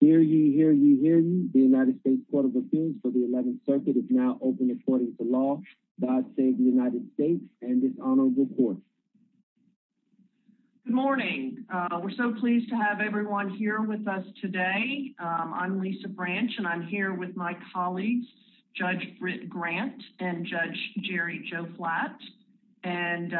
Hear ye, hear ye, hear ye. The United States Court of Appeals for the 11th Circuit is now open according to law. God save the United States and this honorable court. Good morning. We're so pleased to have everyone here with us today. I'm Lisa Branch and I'm here with my colleagues Judge Britt Grant and Judge Jerry Joe Flatt and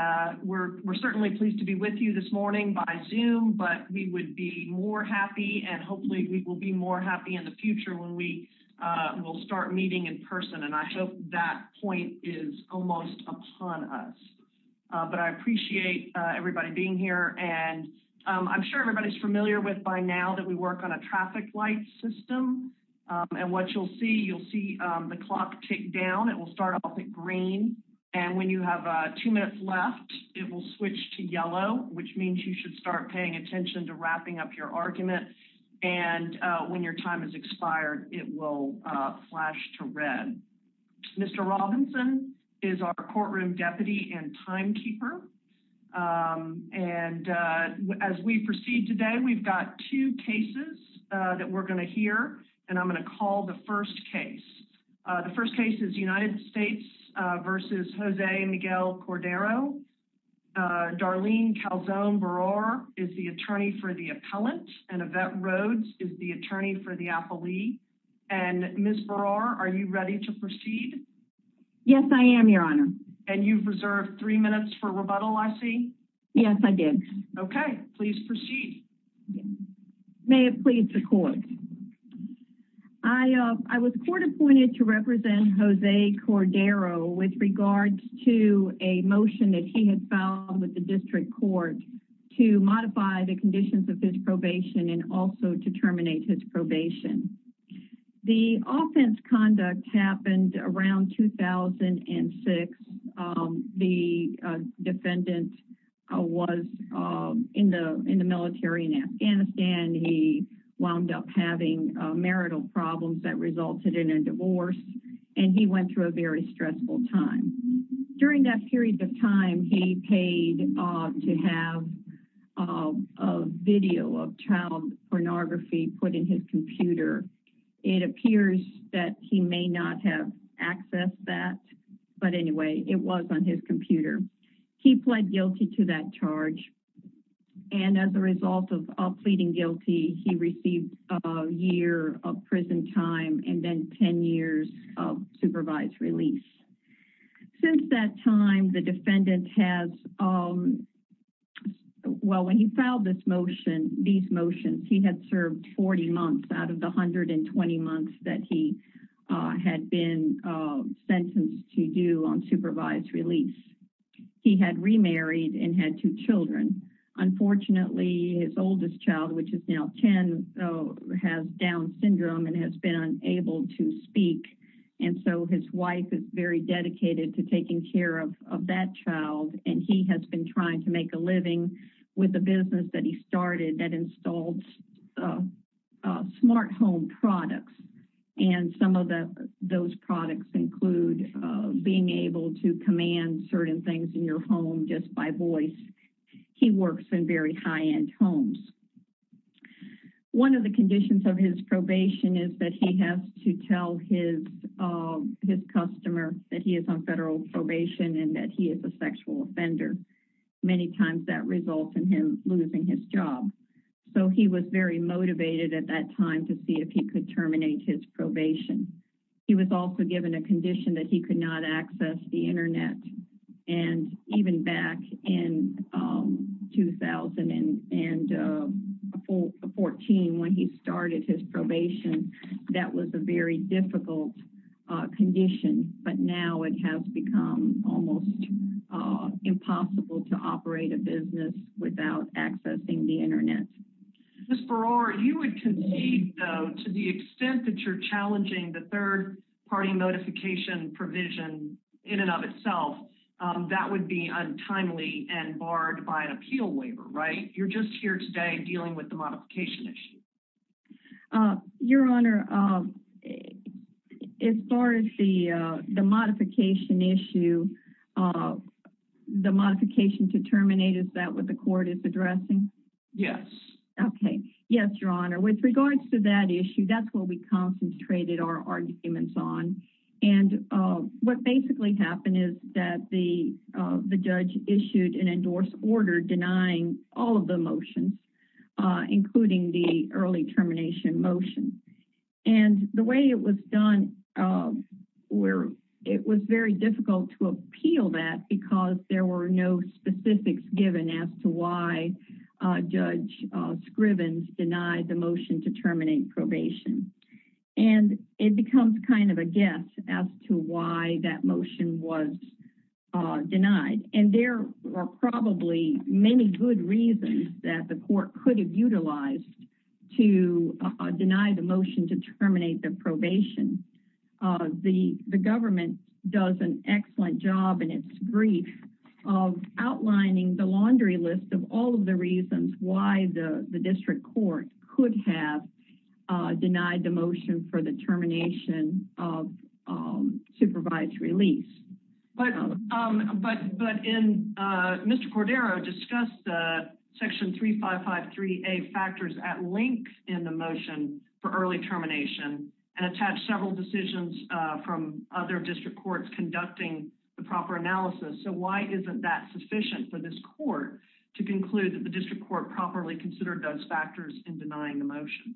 we're certainly pleased to be with you this morning by Zoom but we would be more happy and hopefully we will be more happy in the future when we will start meeting in person and I hope that point is almost upon us but I appreciate everybody being here and I'm sure everybody's familiar with by now that we work on a traffic light system and what you'll see you'll see the clock tick down it will start green and when you have two minutes left it will switch to yellow which means you should start paying attention to wrapping up your argument and when your time is expired it will flash to red. Mr. Robinson is our courtroom deputy and timekeeper and as we proceed today we've got two cases that we're going to hear and I'm going to call the first case. The first case is United States versus Jose Miguel Cordero. Darlene Calzone Berard is the attorney for the appellant and Yvette Rhodes is the attorney for the appellee and Ms. Berard are you ready to proceed? Yes I am your honor. And you've reserved three minutes for rebuttal I see. Yes I did. Okay please proceed. May it please the court. I was court appointed to represent Jose Cordero with regards to a motion that he had filed with the district court to modify the conditions of his probation and also to terminate his probation. The offense conduct happened around 2006. The defendant was in the in the military in Afghanistan. He wound up having marital problems that resulted in a divorce and he went through a very stressful time. During that period of time he paid off to have a video of child pornography put in his computer. It appears that he may not have accessed that but anyway it was on his computer. He pled guilty to that charge and as a result of pleading guilty he received a year of prison time and then 10 years of supervised release. Since that time the defendant has well when he filed this motion these motions he had served 40 months out of the 120 months that he had been sentenced to do on supervised release. He had remarried and had two children. Unfortunately his oldest child which is now 10 has down syndrome and has been unable to speak and so his wife is very dedicated to taking care of that child and he has been trying to make a living with the business that he started that installed smart home products and some of the those products include being able to command certain things in your home just by voice. He works in very high-end homes. One of the conditions of his probation is that he has to tell his customer that he is on federal probation and that he is a sexual offender. Many times that results in him losing his job so he was very motivated at that time to see if he could terminate his probation. He was also given a condition that he could not access the internet and even back in 2014 when he started his probation that was a very difficult condition but now it has become almost impossible to operate a business without accessing the internet. Ms. Berard you would concede though to the extent that you're in and of itself that would be untimely and barred by an appeal waiver right? You're just here today dealing with the modification issue. Your honor as far as the modification issue the modification to terminate is that what the court is addressing? Yes. Okay yes your honor with regards to that issue that's what we concentrated our arguments on and what basically happened is that the judge issued an endorsed order denying all of the motions including the early termination motion and the way it was done where it was very difficult to appeal that because there were no specifics given as to why judge Scrivins denied the motion to terminate probation and it becomes kind of a guess as to why that motion was denied and there are probably many good reasons that the court could have utilized to deny the motion to terminate the of outlining the laundry list of all of the reasons why the district court could have denied the motion for the termination of supervised release. But in Mr. Cordero discussed the section 3553a factors at length in the motion for early termination and attached several decisions from other district courts conducting the proper analysis so why isn't that sufficient for this court to conclude that the district court properly considered those factors in denying the motion?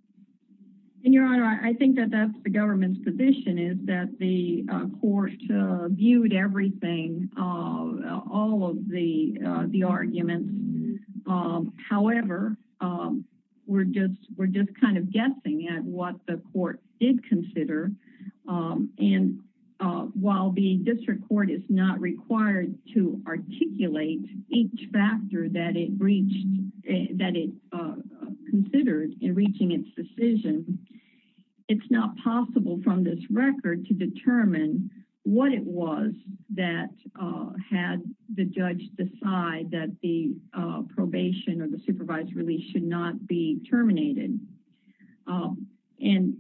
And your honor I think that that's the government's position is that the court viewed everything all of the the arguments however we're just we're just kind of guessing at what the court did consider and while the district court is not required to articulate each factor that it reached that it considered in reaching its decision it's not possible from this record to determine what it was that had the judge decide that the probation or the supervised release should not be terminated. And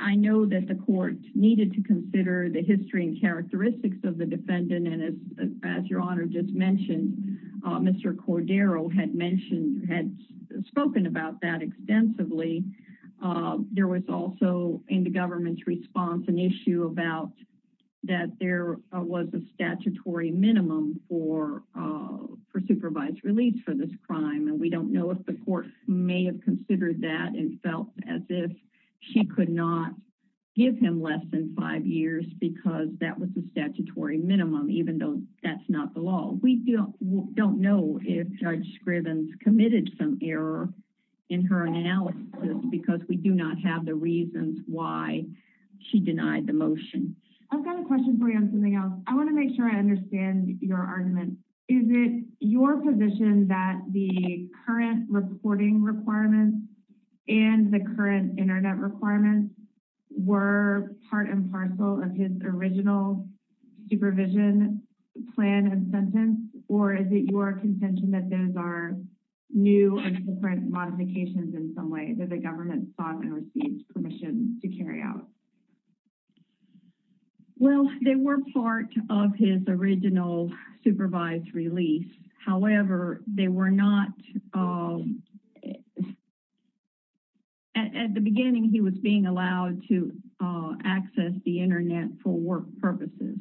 I know that the court needed to consider the history and characteristics of the defendant and as as your honor just mentioned Mr. Cordero had mentioned had spoken about that extensively. There was also in the government's response an issue about that there was a statutory minimum for supervised release for this crime and we don't know if the court may have considered that and felt as if she could not give him less than five years because that was the statutory minimum even though that's not the law. We don't know if Judge Scrivens committed some error in her analysis because we do not have the reasons why she denied the motion. I've got a question for something else. I want to make sure I understand your argument. Is it your position that the current reporting requirements and the current internet requirements were part and parcel of his original supervision plan and sentence or is it your contention that those are new and different modifications in some way that the government sought and received permission to carry out? Well, they were part of his original supervised release. However, they were not at the beginning he was being allowed to access the internet for work purposes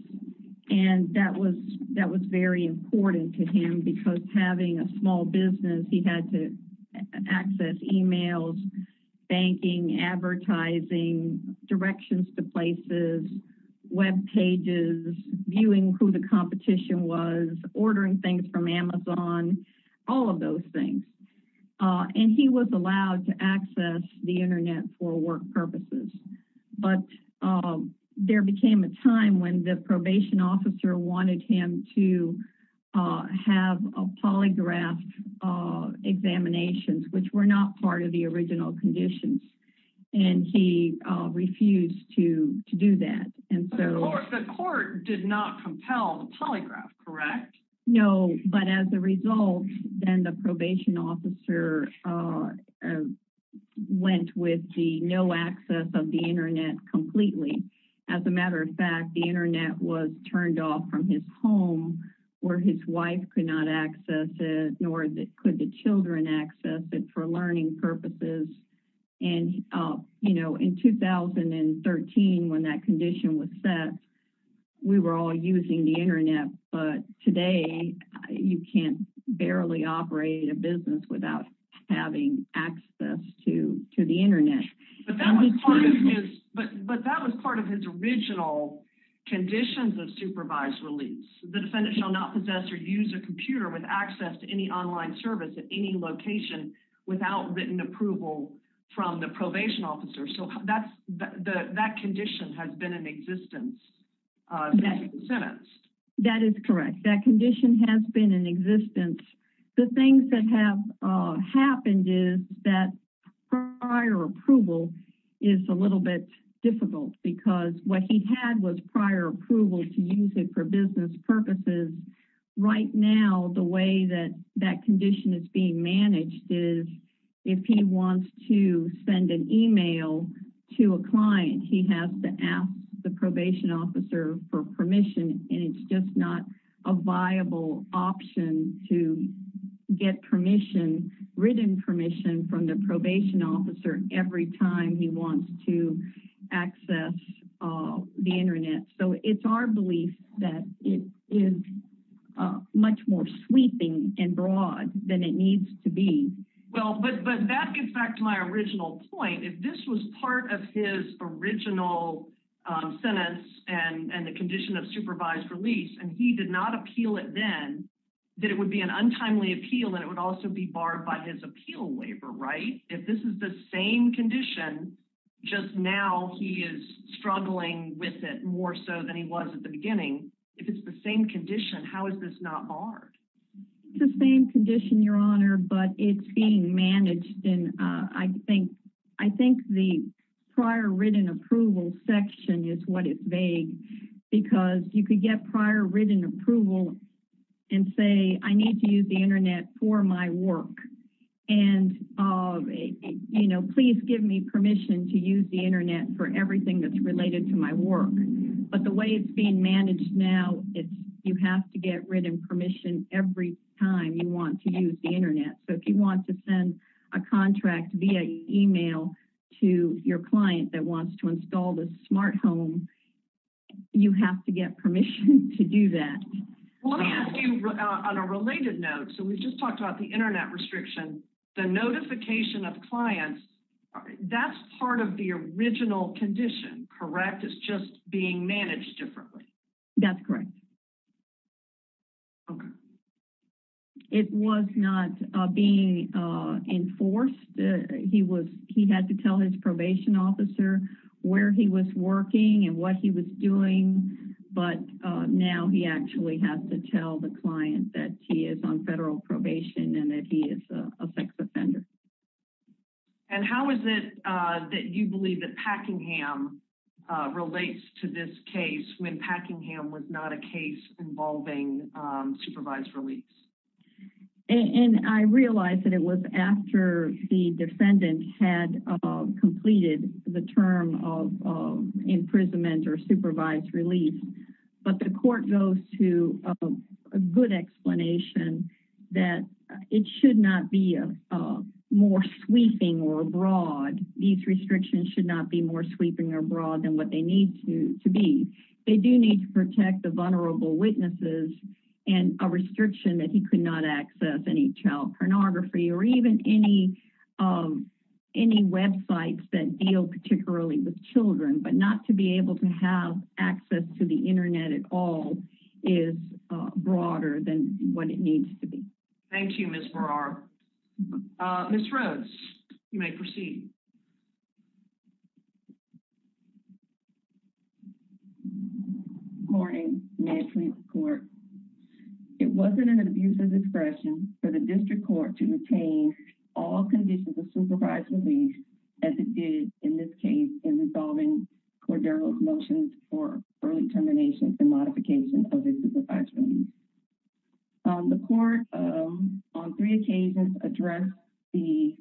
and that was that was very important to him because having a small business he had to access emails, banking, advertising, directions to places, web pages, viewing who the competition was, ordering things from Amazon, all of those things and he was allowed to access the internet for work purposes but there became a time when the probation officer wanted him to have a polygraph examinations which were not part of the original conditions and he refused to do that. The court did not compel the polygraph, correct? No, but as a result then the probation officer went with the no access of the internet completely. As a matter of fact, the internet was could the children access it for learning purposes and you know in 2013 when that condition was set we were all using the internet but today you can't barely operate a business without having access to the internet. But that was part of his original conditions of supervised release. The defendant shall not possess or use a computer with access to any online service at any location without written approval from the probation officer so that's the that condition has been in existence. That is correct that condition has been in existence. The things that have happened is that prior approval is a little bit difficult because what he had was prior approval to use it for business purposes. Right now the way that that condition is being managed is if he wants to send an email to a client he has to ask the probation officer for permission and it's just not a viable option to get written permission from the the internet. So it's our belief that it is much more sweeping and broad than it needs to be. Well, but that gets back to my original point. If this was part of his original sentence and the condition of supervised release and he did not appeal it then that it would be an untimely appeal and it would also be barred by his appeal waiver, right? If this is the same condition just now he is struggling with it more so than he was at the beginning. If it's the same condition how is this not barred? It's the same condition your honor but it's being managed and I think the prior written approval section is what is vague because you could get prior written approval and say I need to use the internet for my work and you know please give me permission to use the internet for everything that's related to my work but the way it's being managed now it's you have to get written permission every time you want to use the internet. So if you want to send a contract via email to your client that wants to install this smart home you have to get permission to do that. Let me ask you on a related note so we just talked about the internet restriction the notification of clients that's part of the original condition, correct? It's just being managed differently. That's correct. Okay. It was not being enforced. He had to now he actually has to tell the client that he is on federal probation and that he is a sex offender. And how is it that you believe that Packingham relates to this case when Packingham was not a case involving supervised release? And I realized that it was after the defendant had completed the term of imprisonment or supervised release but the court goes to a good explanation that it should not be a more sweeping or broad. These restrictions should not be more sweeping or broad than what they need to be. They do need to protect the vulnerable witnesses and a restriction that he could not access any child pornography or even any websites that deal particularly with children but not to be able to have access to the internet at all is broader than what it needs to be. Thank you, Ms. Burrard. Ms. Rhodes, you may proceed. Good morning. Next we report it wasn't an abuse of discretion for the district court to retain all conditions of supervised release as it did in this case in resolving Cordero's motions for early terminations and modification of the supervised release. The court on three occasions addressed the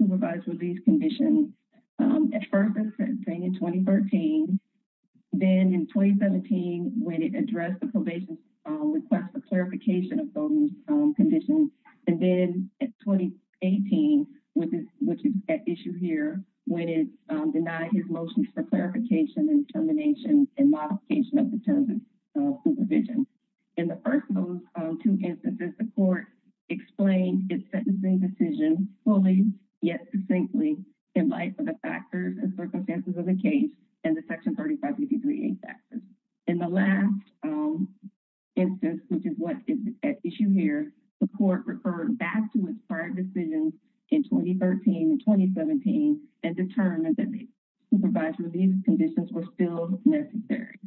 supervised release conditions at first in 2013. Then in 2017 when it addressed probation request for clarification of those conditions and then in 2018 which is at issue here when it denied his motions for clarification and termination and modification of the terms of supervision. In the first of those two instances the court explained its sentencing decision fully yet succinctly in light of the factors and circumstances of the case and the section 3553A factors. In the last instance which is what is at issue here the court referred back to its prior decisions in 2013 and 2017 and determined that the supervised release conditions were still necessary.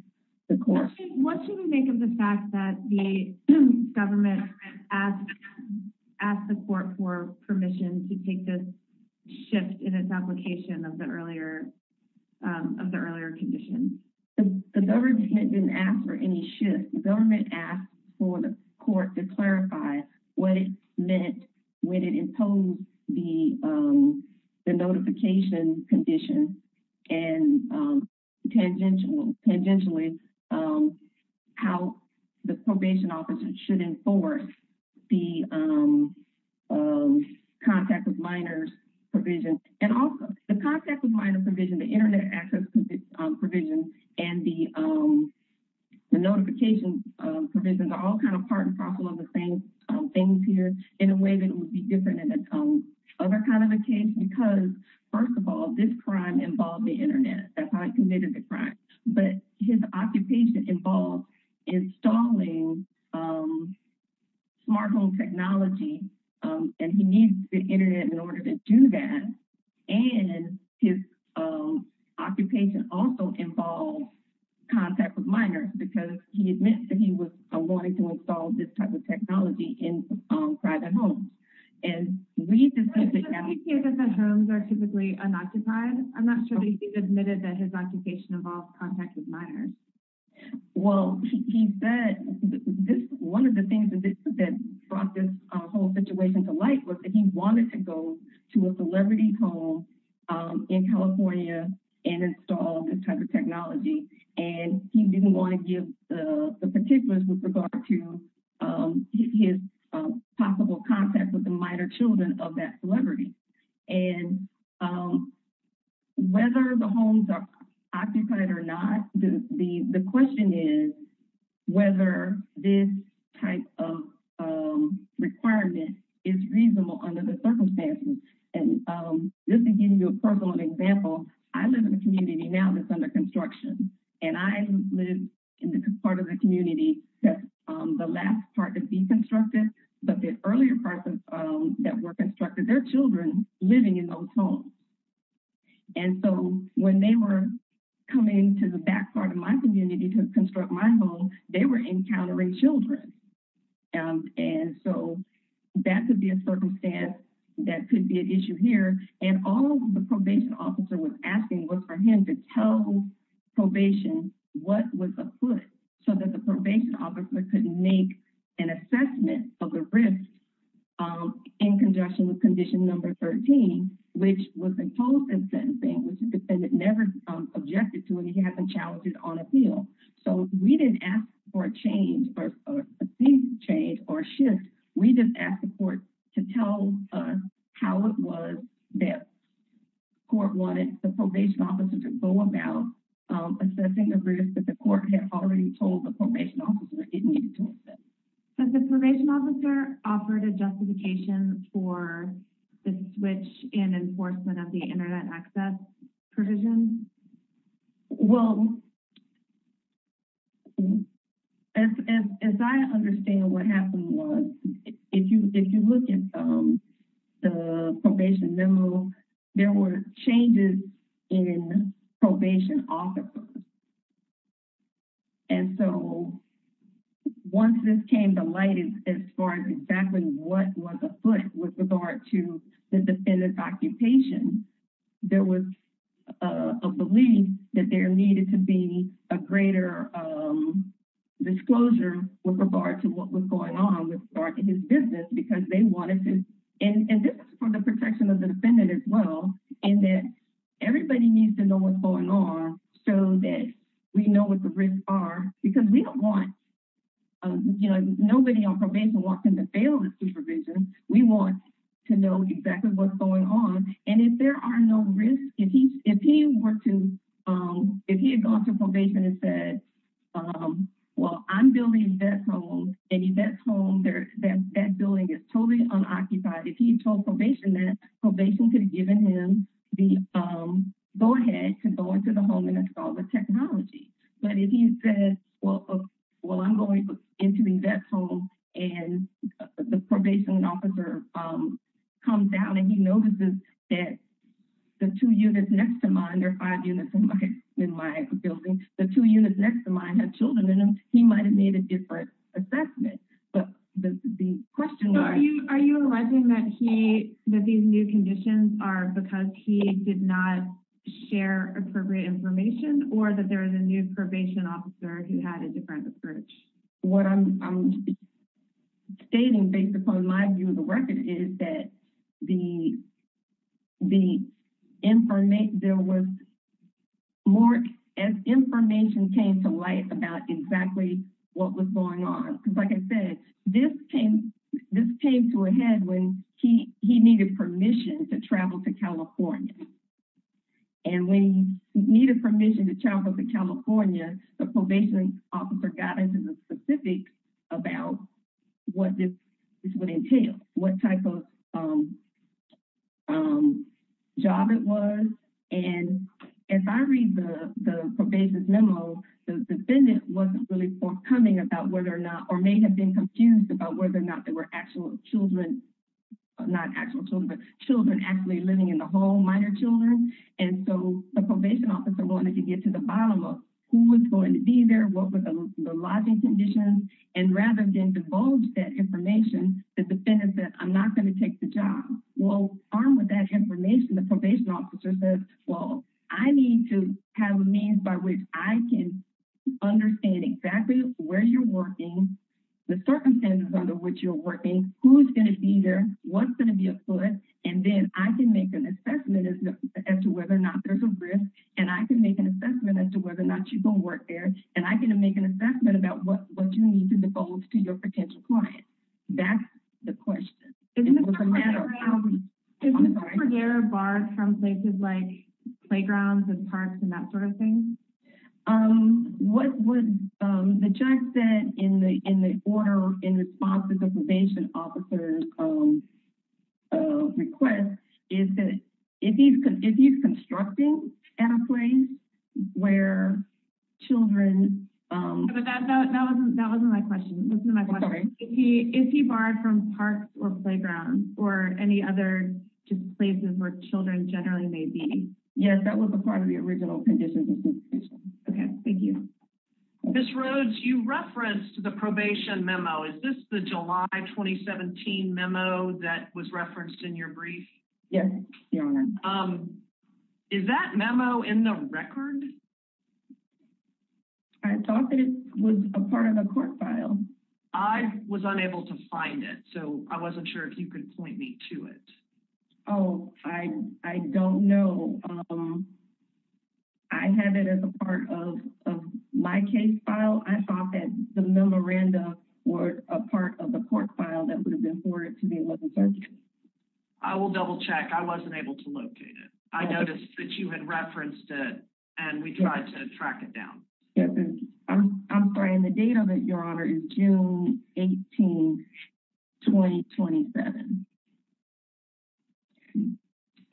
What should we make of the fact that the government asked the court for permission to this shift in its application of the earlier of the earlier condition? The government didn't ask for any shift. The government asked for the court to clarify what it meant when it imposed the notification condition and tangentially how the probation officer should enforce the contact with minors provision and also the contact with minor provision the internet access provision and the notification provisions are all kind of part and parcel of the same things here in a way that would be different in another kind of a case because first of all this crime involved the internet that's how he committed the crime but his occupation involved installing smart home technology and he needs the internet in order to do that and his occupation also involves contact with minors because he admits that he was wanting to install this type of technology in private homes and we just hear that the homes are typically unoccupied i'm not sure that he's admitted that his occupation involves contact with minors well he said this one of the things that brought this whole situation to light was that he wanted to go to a celebrity home in california and install this type of technology and he didn't want to give the particulars with regard to his possible contact with the minor children of that the question is whether this type of um requirement is reasonable under the circumstances and um just to give you a personal example i live in a community now that's under construction and i live in the part of the community that's um the last part to be constructed but the earlier parts of um that were constructed their children living in those homes and so when they were coming to the back part of my community to construct my home they were encountering children and so that could be a circumstance that could be an issue here and all the probation officer was asking was for him to tell probation what was afoot so that the probation officer couldn't make an assessment of the risk in conjunction with condition number 13 which was imposed in sentencing which the defendant never objected to and he had been challenged on appeal so we didn't ask for a change or a change or shift we just asked the court to tell us how it was that court wanted the probation officer to go about assessing the risk that the court had already told the probation officer it needed to assess. So the probation officer offered a internet access provision? Well as as i understand what happened was if you if you look at um the probation memo there were changes in probation officers and so once this came to light is as far as exactly what was afoot with regard to the defendant's occupation there was a belief that there needed to be a greater um disclosure with regard to what was going on with his business because they wanted to and and this is for the protection of the defendant as well in that everybody needs to know what's going on so that we know what the risks are because we don't want um you know nobody on probation wants him to fail the supervision we want to know exactly what's going on and if there are no risks if he if he were to um if he had gone through probation and said um well i'm building that home and that's home there that building is totally unoccupied if he told probation that probation could have given him the um go ahead to go into the home technology but if he said well well i'm going into the vet home and the probation officer um comes down and he notices that the two units next to mine there are five units in my in my building the two units next to mine have children in them he might have made a different assessment but the question are you are you alleging that he that these new conditions are because he did not share appropriate information or that there is a new probation officer who had a different approach what i'm stating based upon my view of the record is that the the information there was more as information came to light about exactly what was going on because like i said this came this came to a head when he he needed permission to travel to california and when he needed permission to travel to california the probation officer got into the specifics about what this would entail what type of um um job it was and as i read the the probation memo the defendant wasn't really forthcoming about whether or not or may have been confused about whether or not there were actual children not actual children but children actually living in the home minor children and so the probation officer wanted to get to the bottom of who was going to be there what was the lodging conditions and rather than divulge that information the defendant said i'm not going to take the job well armed with that information the probation officer says well i need to have a means by which i can understand exactly where you're working the circumstances under which you're working who's going to be there what's going to be a foot and then i can make an assessment as to whether or not there's a risk and i can make an assessment as to whether or not you're going to work there and i'm going to make an assessment about what what you need to divulge to your potential client that's the question isn't there a bar from places like playgrounds and parks and that sort of thing um what would um the judge said in the in the order in response to the probation officer's um uh request is that if he's if he's constructing pathways where children um that wasn't my question wasn't my question if he if he barred from parks or playgrounds or any other just places where children generally may be yes that was a part of the original conditions okay thank you miss rhodes you referenced the probation memo is this the july 2017 memo that was referenced in your brief yes your honor um is that memo in the record i thought that it was a part of a court file i was unable to find it so i wasn't sure if could point me to it oh i i don't know um i have it as a part of of my case file i thought that the memoranda were a part of the court file that would have been for it to be able to search i will double check i wasn't able to locate it i noticed that you had referenced it and we tried to track it down yes i'm i'm sorry and the date of it your honor is june 18 2027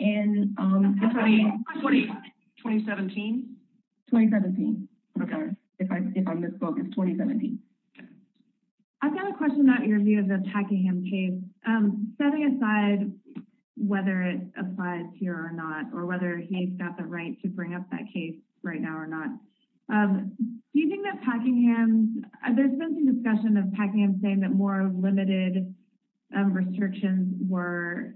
and um 2017 2017 okay if i if i misspoke it's 2017 okay i've got a question about your view of attacking him case um setting aside whether it applies here or not or whether he's got the right to bring up that case right now or not um do you think that packing hands there's been some discussion of packing i'm saying that more limited um restrictions were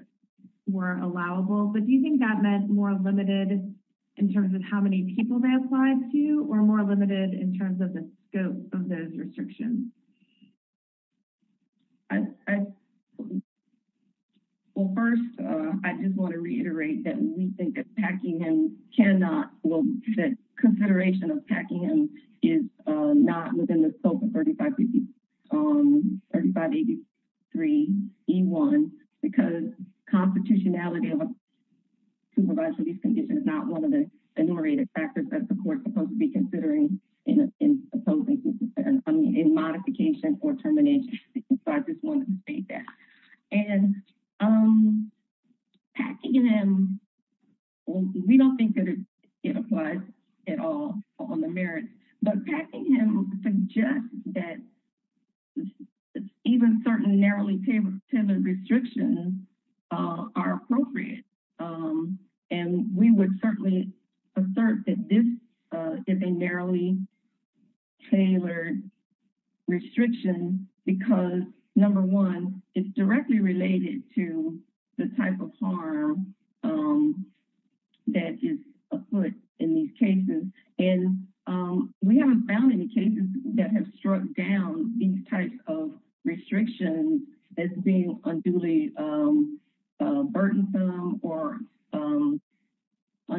were allowable but do you think that meant more limited in terms of how many people they applied to or more limited in terms of the scope of those restrictions i i well first uh i just want to reiterate that we think attacking him cannot well that consideration of packing him is uh not within the scope of 35 um 35 83 e1 because constitutionality of a supervised release condition is not one of the enumerated factors that the court is supposed to be considering in in opposing i mean in modification or termination because i just want to state that and um packing him we don't think that it applies at all on the merit but packing him suggests that even certain narrowly tailored restrictions uh are appropriate um and we would certainly assert that this uh is a narrowly tailored restriction because number one it's directly related to the type of harm um that is afoot in these cases and um we haven't found any cases that have struck down these types of restrictions as being unduly um uh burdensome or um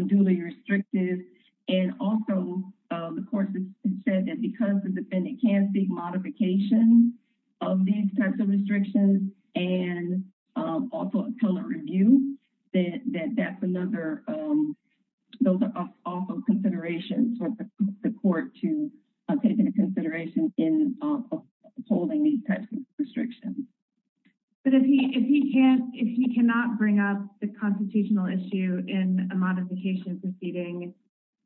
duly restrictive and also um the court has said that because the defendant can't see modification of these types of restrictions and um also a color review that that's another um those are also considerations for the court to take into consideration in uh upholding these types of proceedings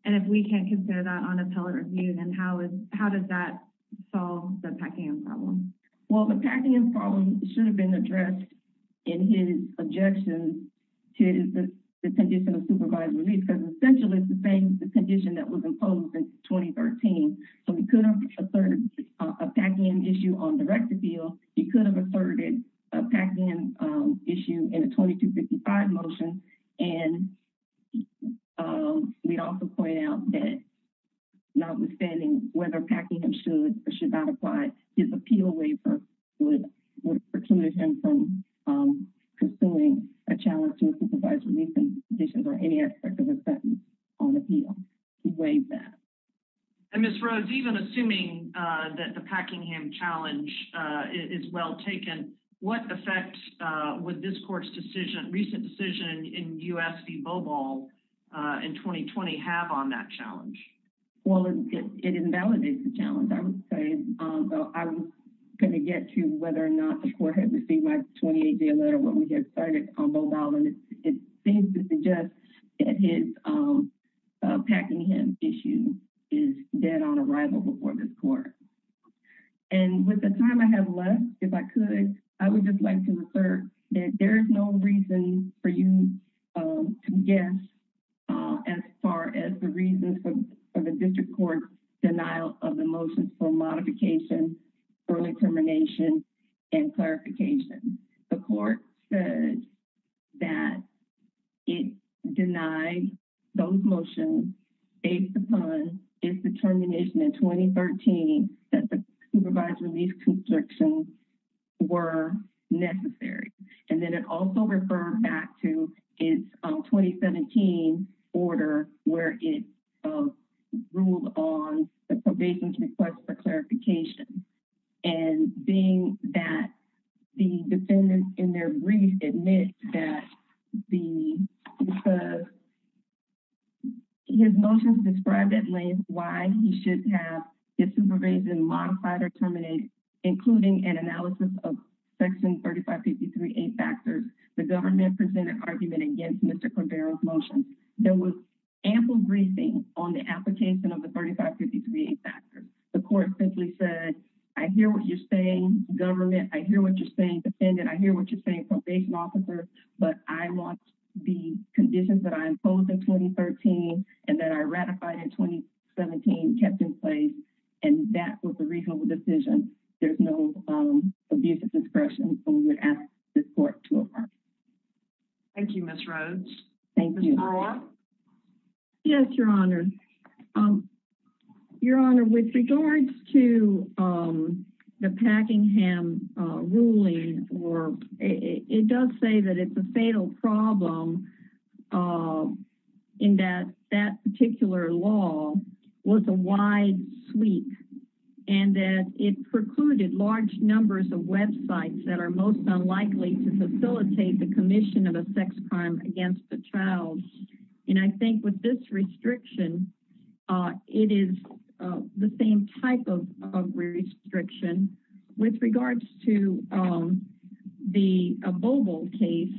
and if we can't consider that on a color review then how is how does that solve the packing problem well the packing problem should have been addressed in his objections to the condition of supervised release because essentially the thing the condition that was imposed in 2013 so we could have asserted a packing issue on direct appeal he could have asserted a packing issue in a 2255 motion and um we'd also point out that notwithstanding whether packing him should or should not apply his appeal waiver would would preclude him from um pursuing a challenge to a supervised release and conditions or any aspect of a sentence on appeal he weighs that and miss roads even assuming uh that the packingham challenge uh is well taken what effect uh would this court's decision recent decision in usv bobal uh in 2020 have on that challenge well it invalidates the challenge i would say um i was going to get to whether or not the court had received my 28-day letter when we get started on mobile and it seems that his um packingham issue is dead on arrival before this court and with the time i have left if i could i would just like to assert that there is no reason for you um to guess uh as far as the reasons for the district court's denial of the motions for modification early termination and it denied those motions based upon its determination in 2013 that the supervised release constrictions were necessary and then it also referred back to its 2017 order where it ruled on the probation request for clarification and being that the defendant in their brief admit that the because his motions described at length why he should have his supervision modified or terminate including an analysis of section 3553a factors the government presented argument against mr cabrera's motion there was ample briefing on the application of the 3553 factors the court simply said i hear what you're saying government i hear what you're saying defendant i hear what you're saying probation officer but i want the conditions that i imposed in 2013 and that i ratified in 2017 kept in place and that was a reasonable decision there's no um abuse of discretion so we would ask this court to affirm thank you miss roads thank you yes your honor um your honor with regards to um the packingham uh ruling or it does say that it's a fatal problem uh in that that particular law was a wide sweep and that it precluded large numbers of websites that are most unlikely to facilitate the commission of a sex crime against the child and i think with this restriction uh it is uh the same type of of restriction with regards to um the boble case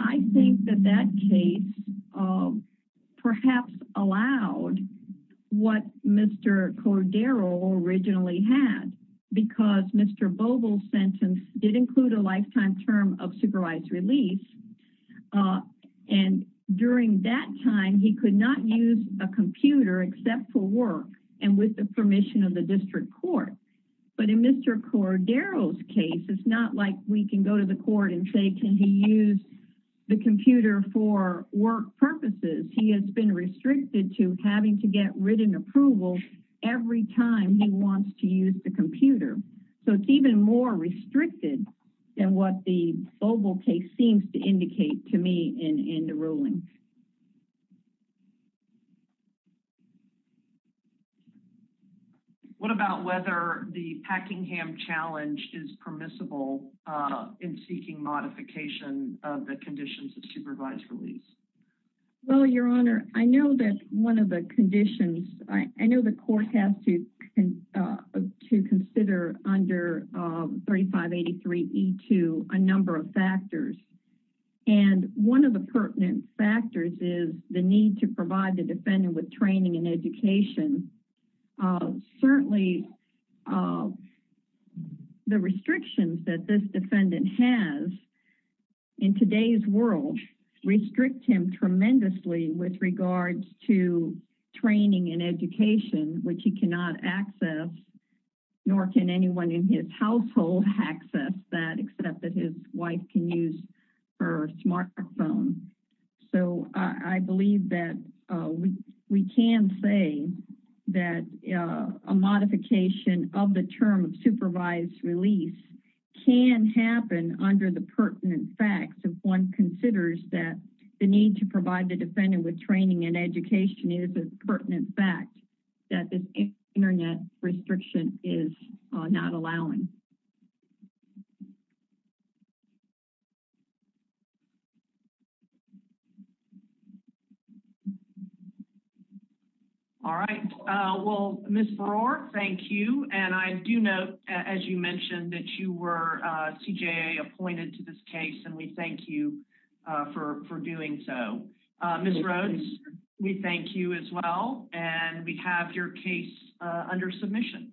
i think that that case um perhaps allowed what mr cordero originally had because mr boble's sentence did include a lifetime term of supervised release uh and during that time he could not use a computer except for work and with the permission of the district court but in mr cordero's case it's not like we can go to the court and say can he use the computer for work purposes he has been restricted to having to get written approvals every time he wants to use the computer so it's even more restricted than what the boble case seems to indicate to me in in the ruling what about whether the packingham challenge is permissible uh in seeking modification of the conditions of supervised release well your honor i know that one of the conditions i know the court has to uh to consider under uh 3583 e2 a number of factors and one of the pertinent factors is the need to provide the defendant with training and education uh certainly uh the restrictions that this defendant has in today's world restrict him tremendously with regards to training and education which he cannot access nor can anyone in his household access that except that his wife can use her smartphone so i believe that we can say that a modification of the term of supervised release can happen under the provide the defendant with training and education if it's pertinent fact that this internet restriction is not allowing all right uh well miss brawler thank you and i do note as you mentioned that you were uh cja appointed to this case and we thank you uh for for doing so uh miss roads we thank you as well and we have your case uh under submission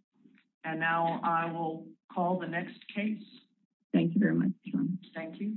and now i will call the next case thank you very much thank you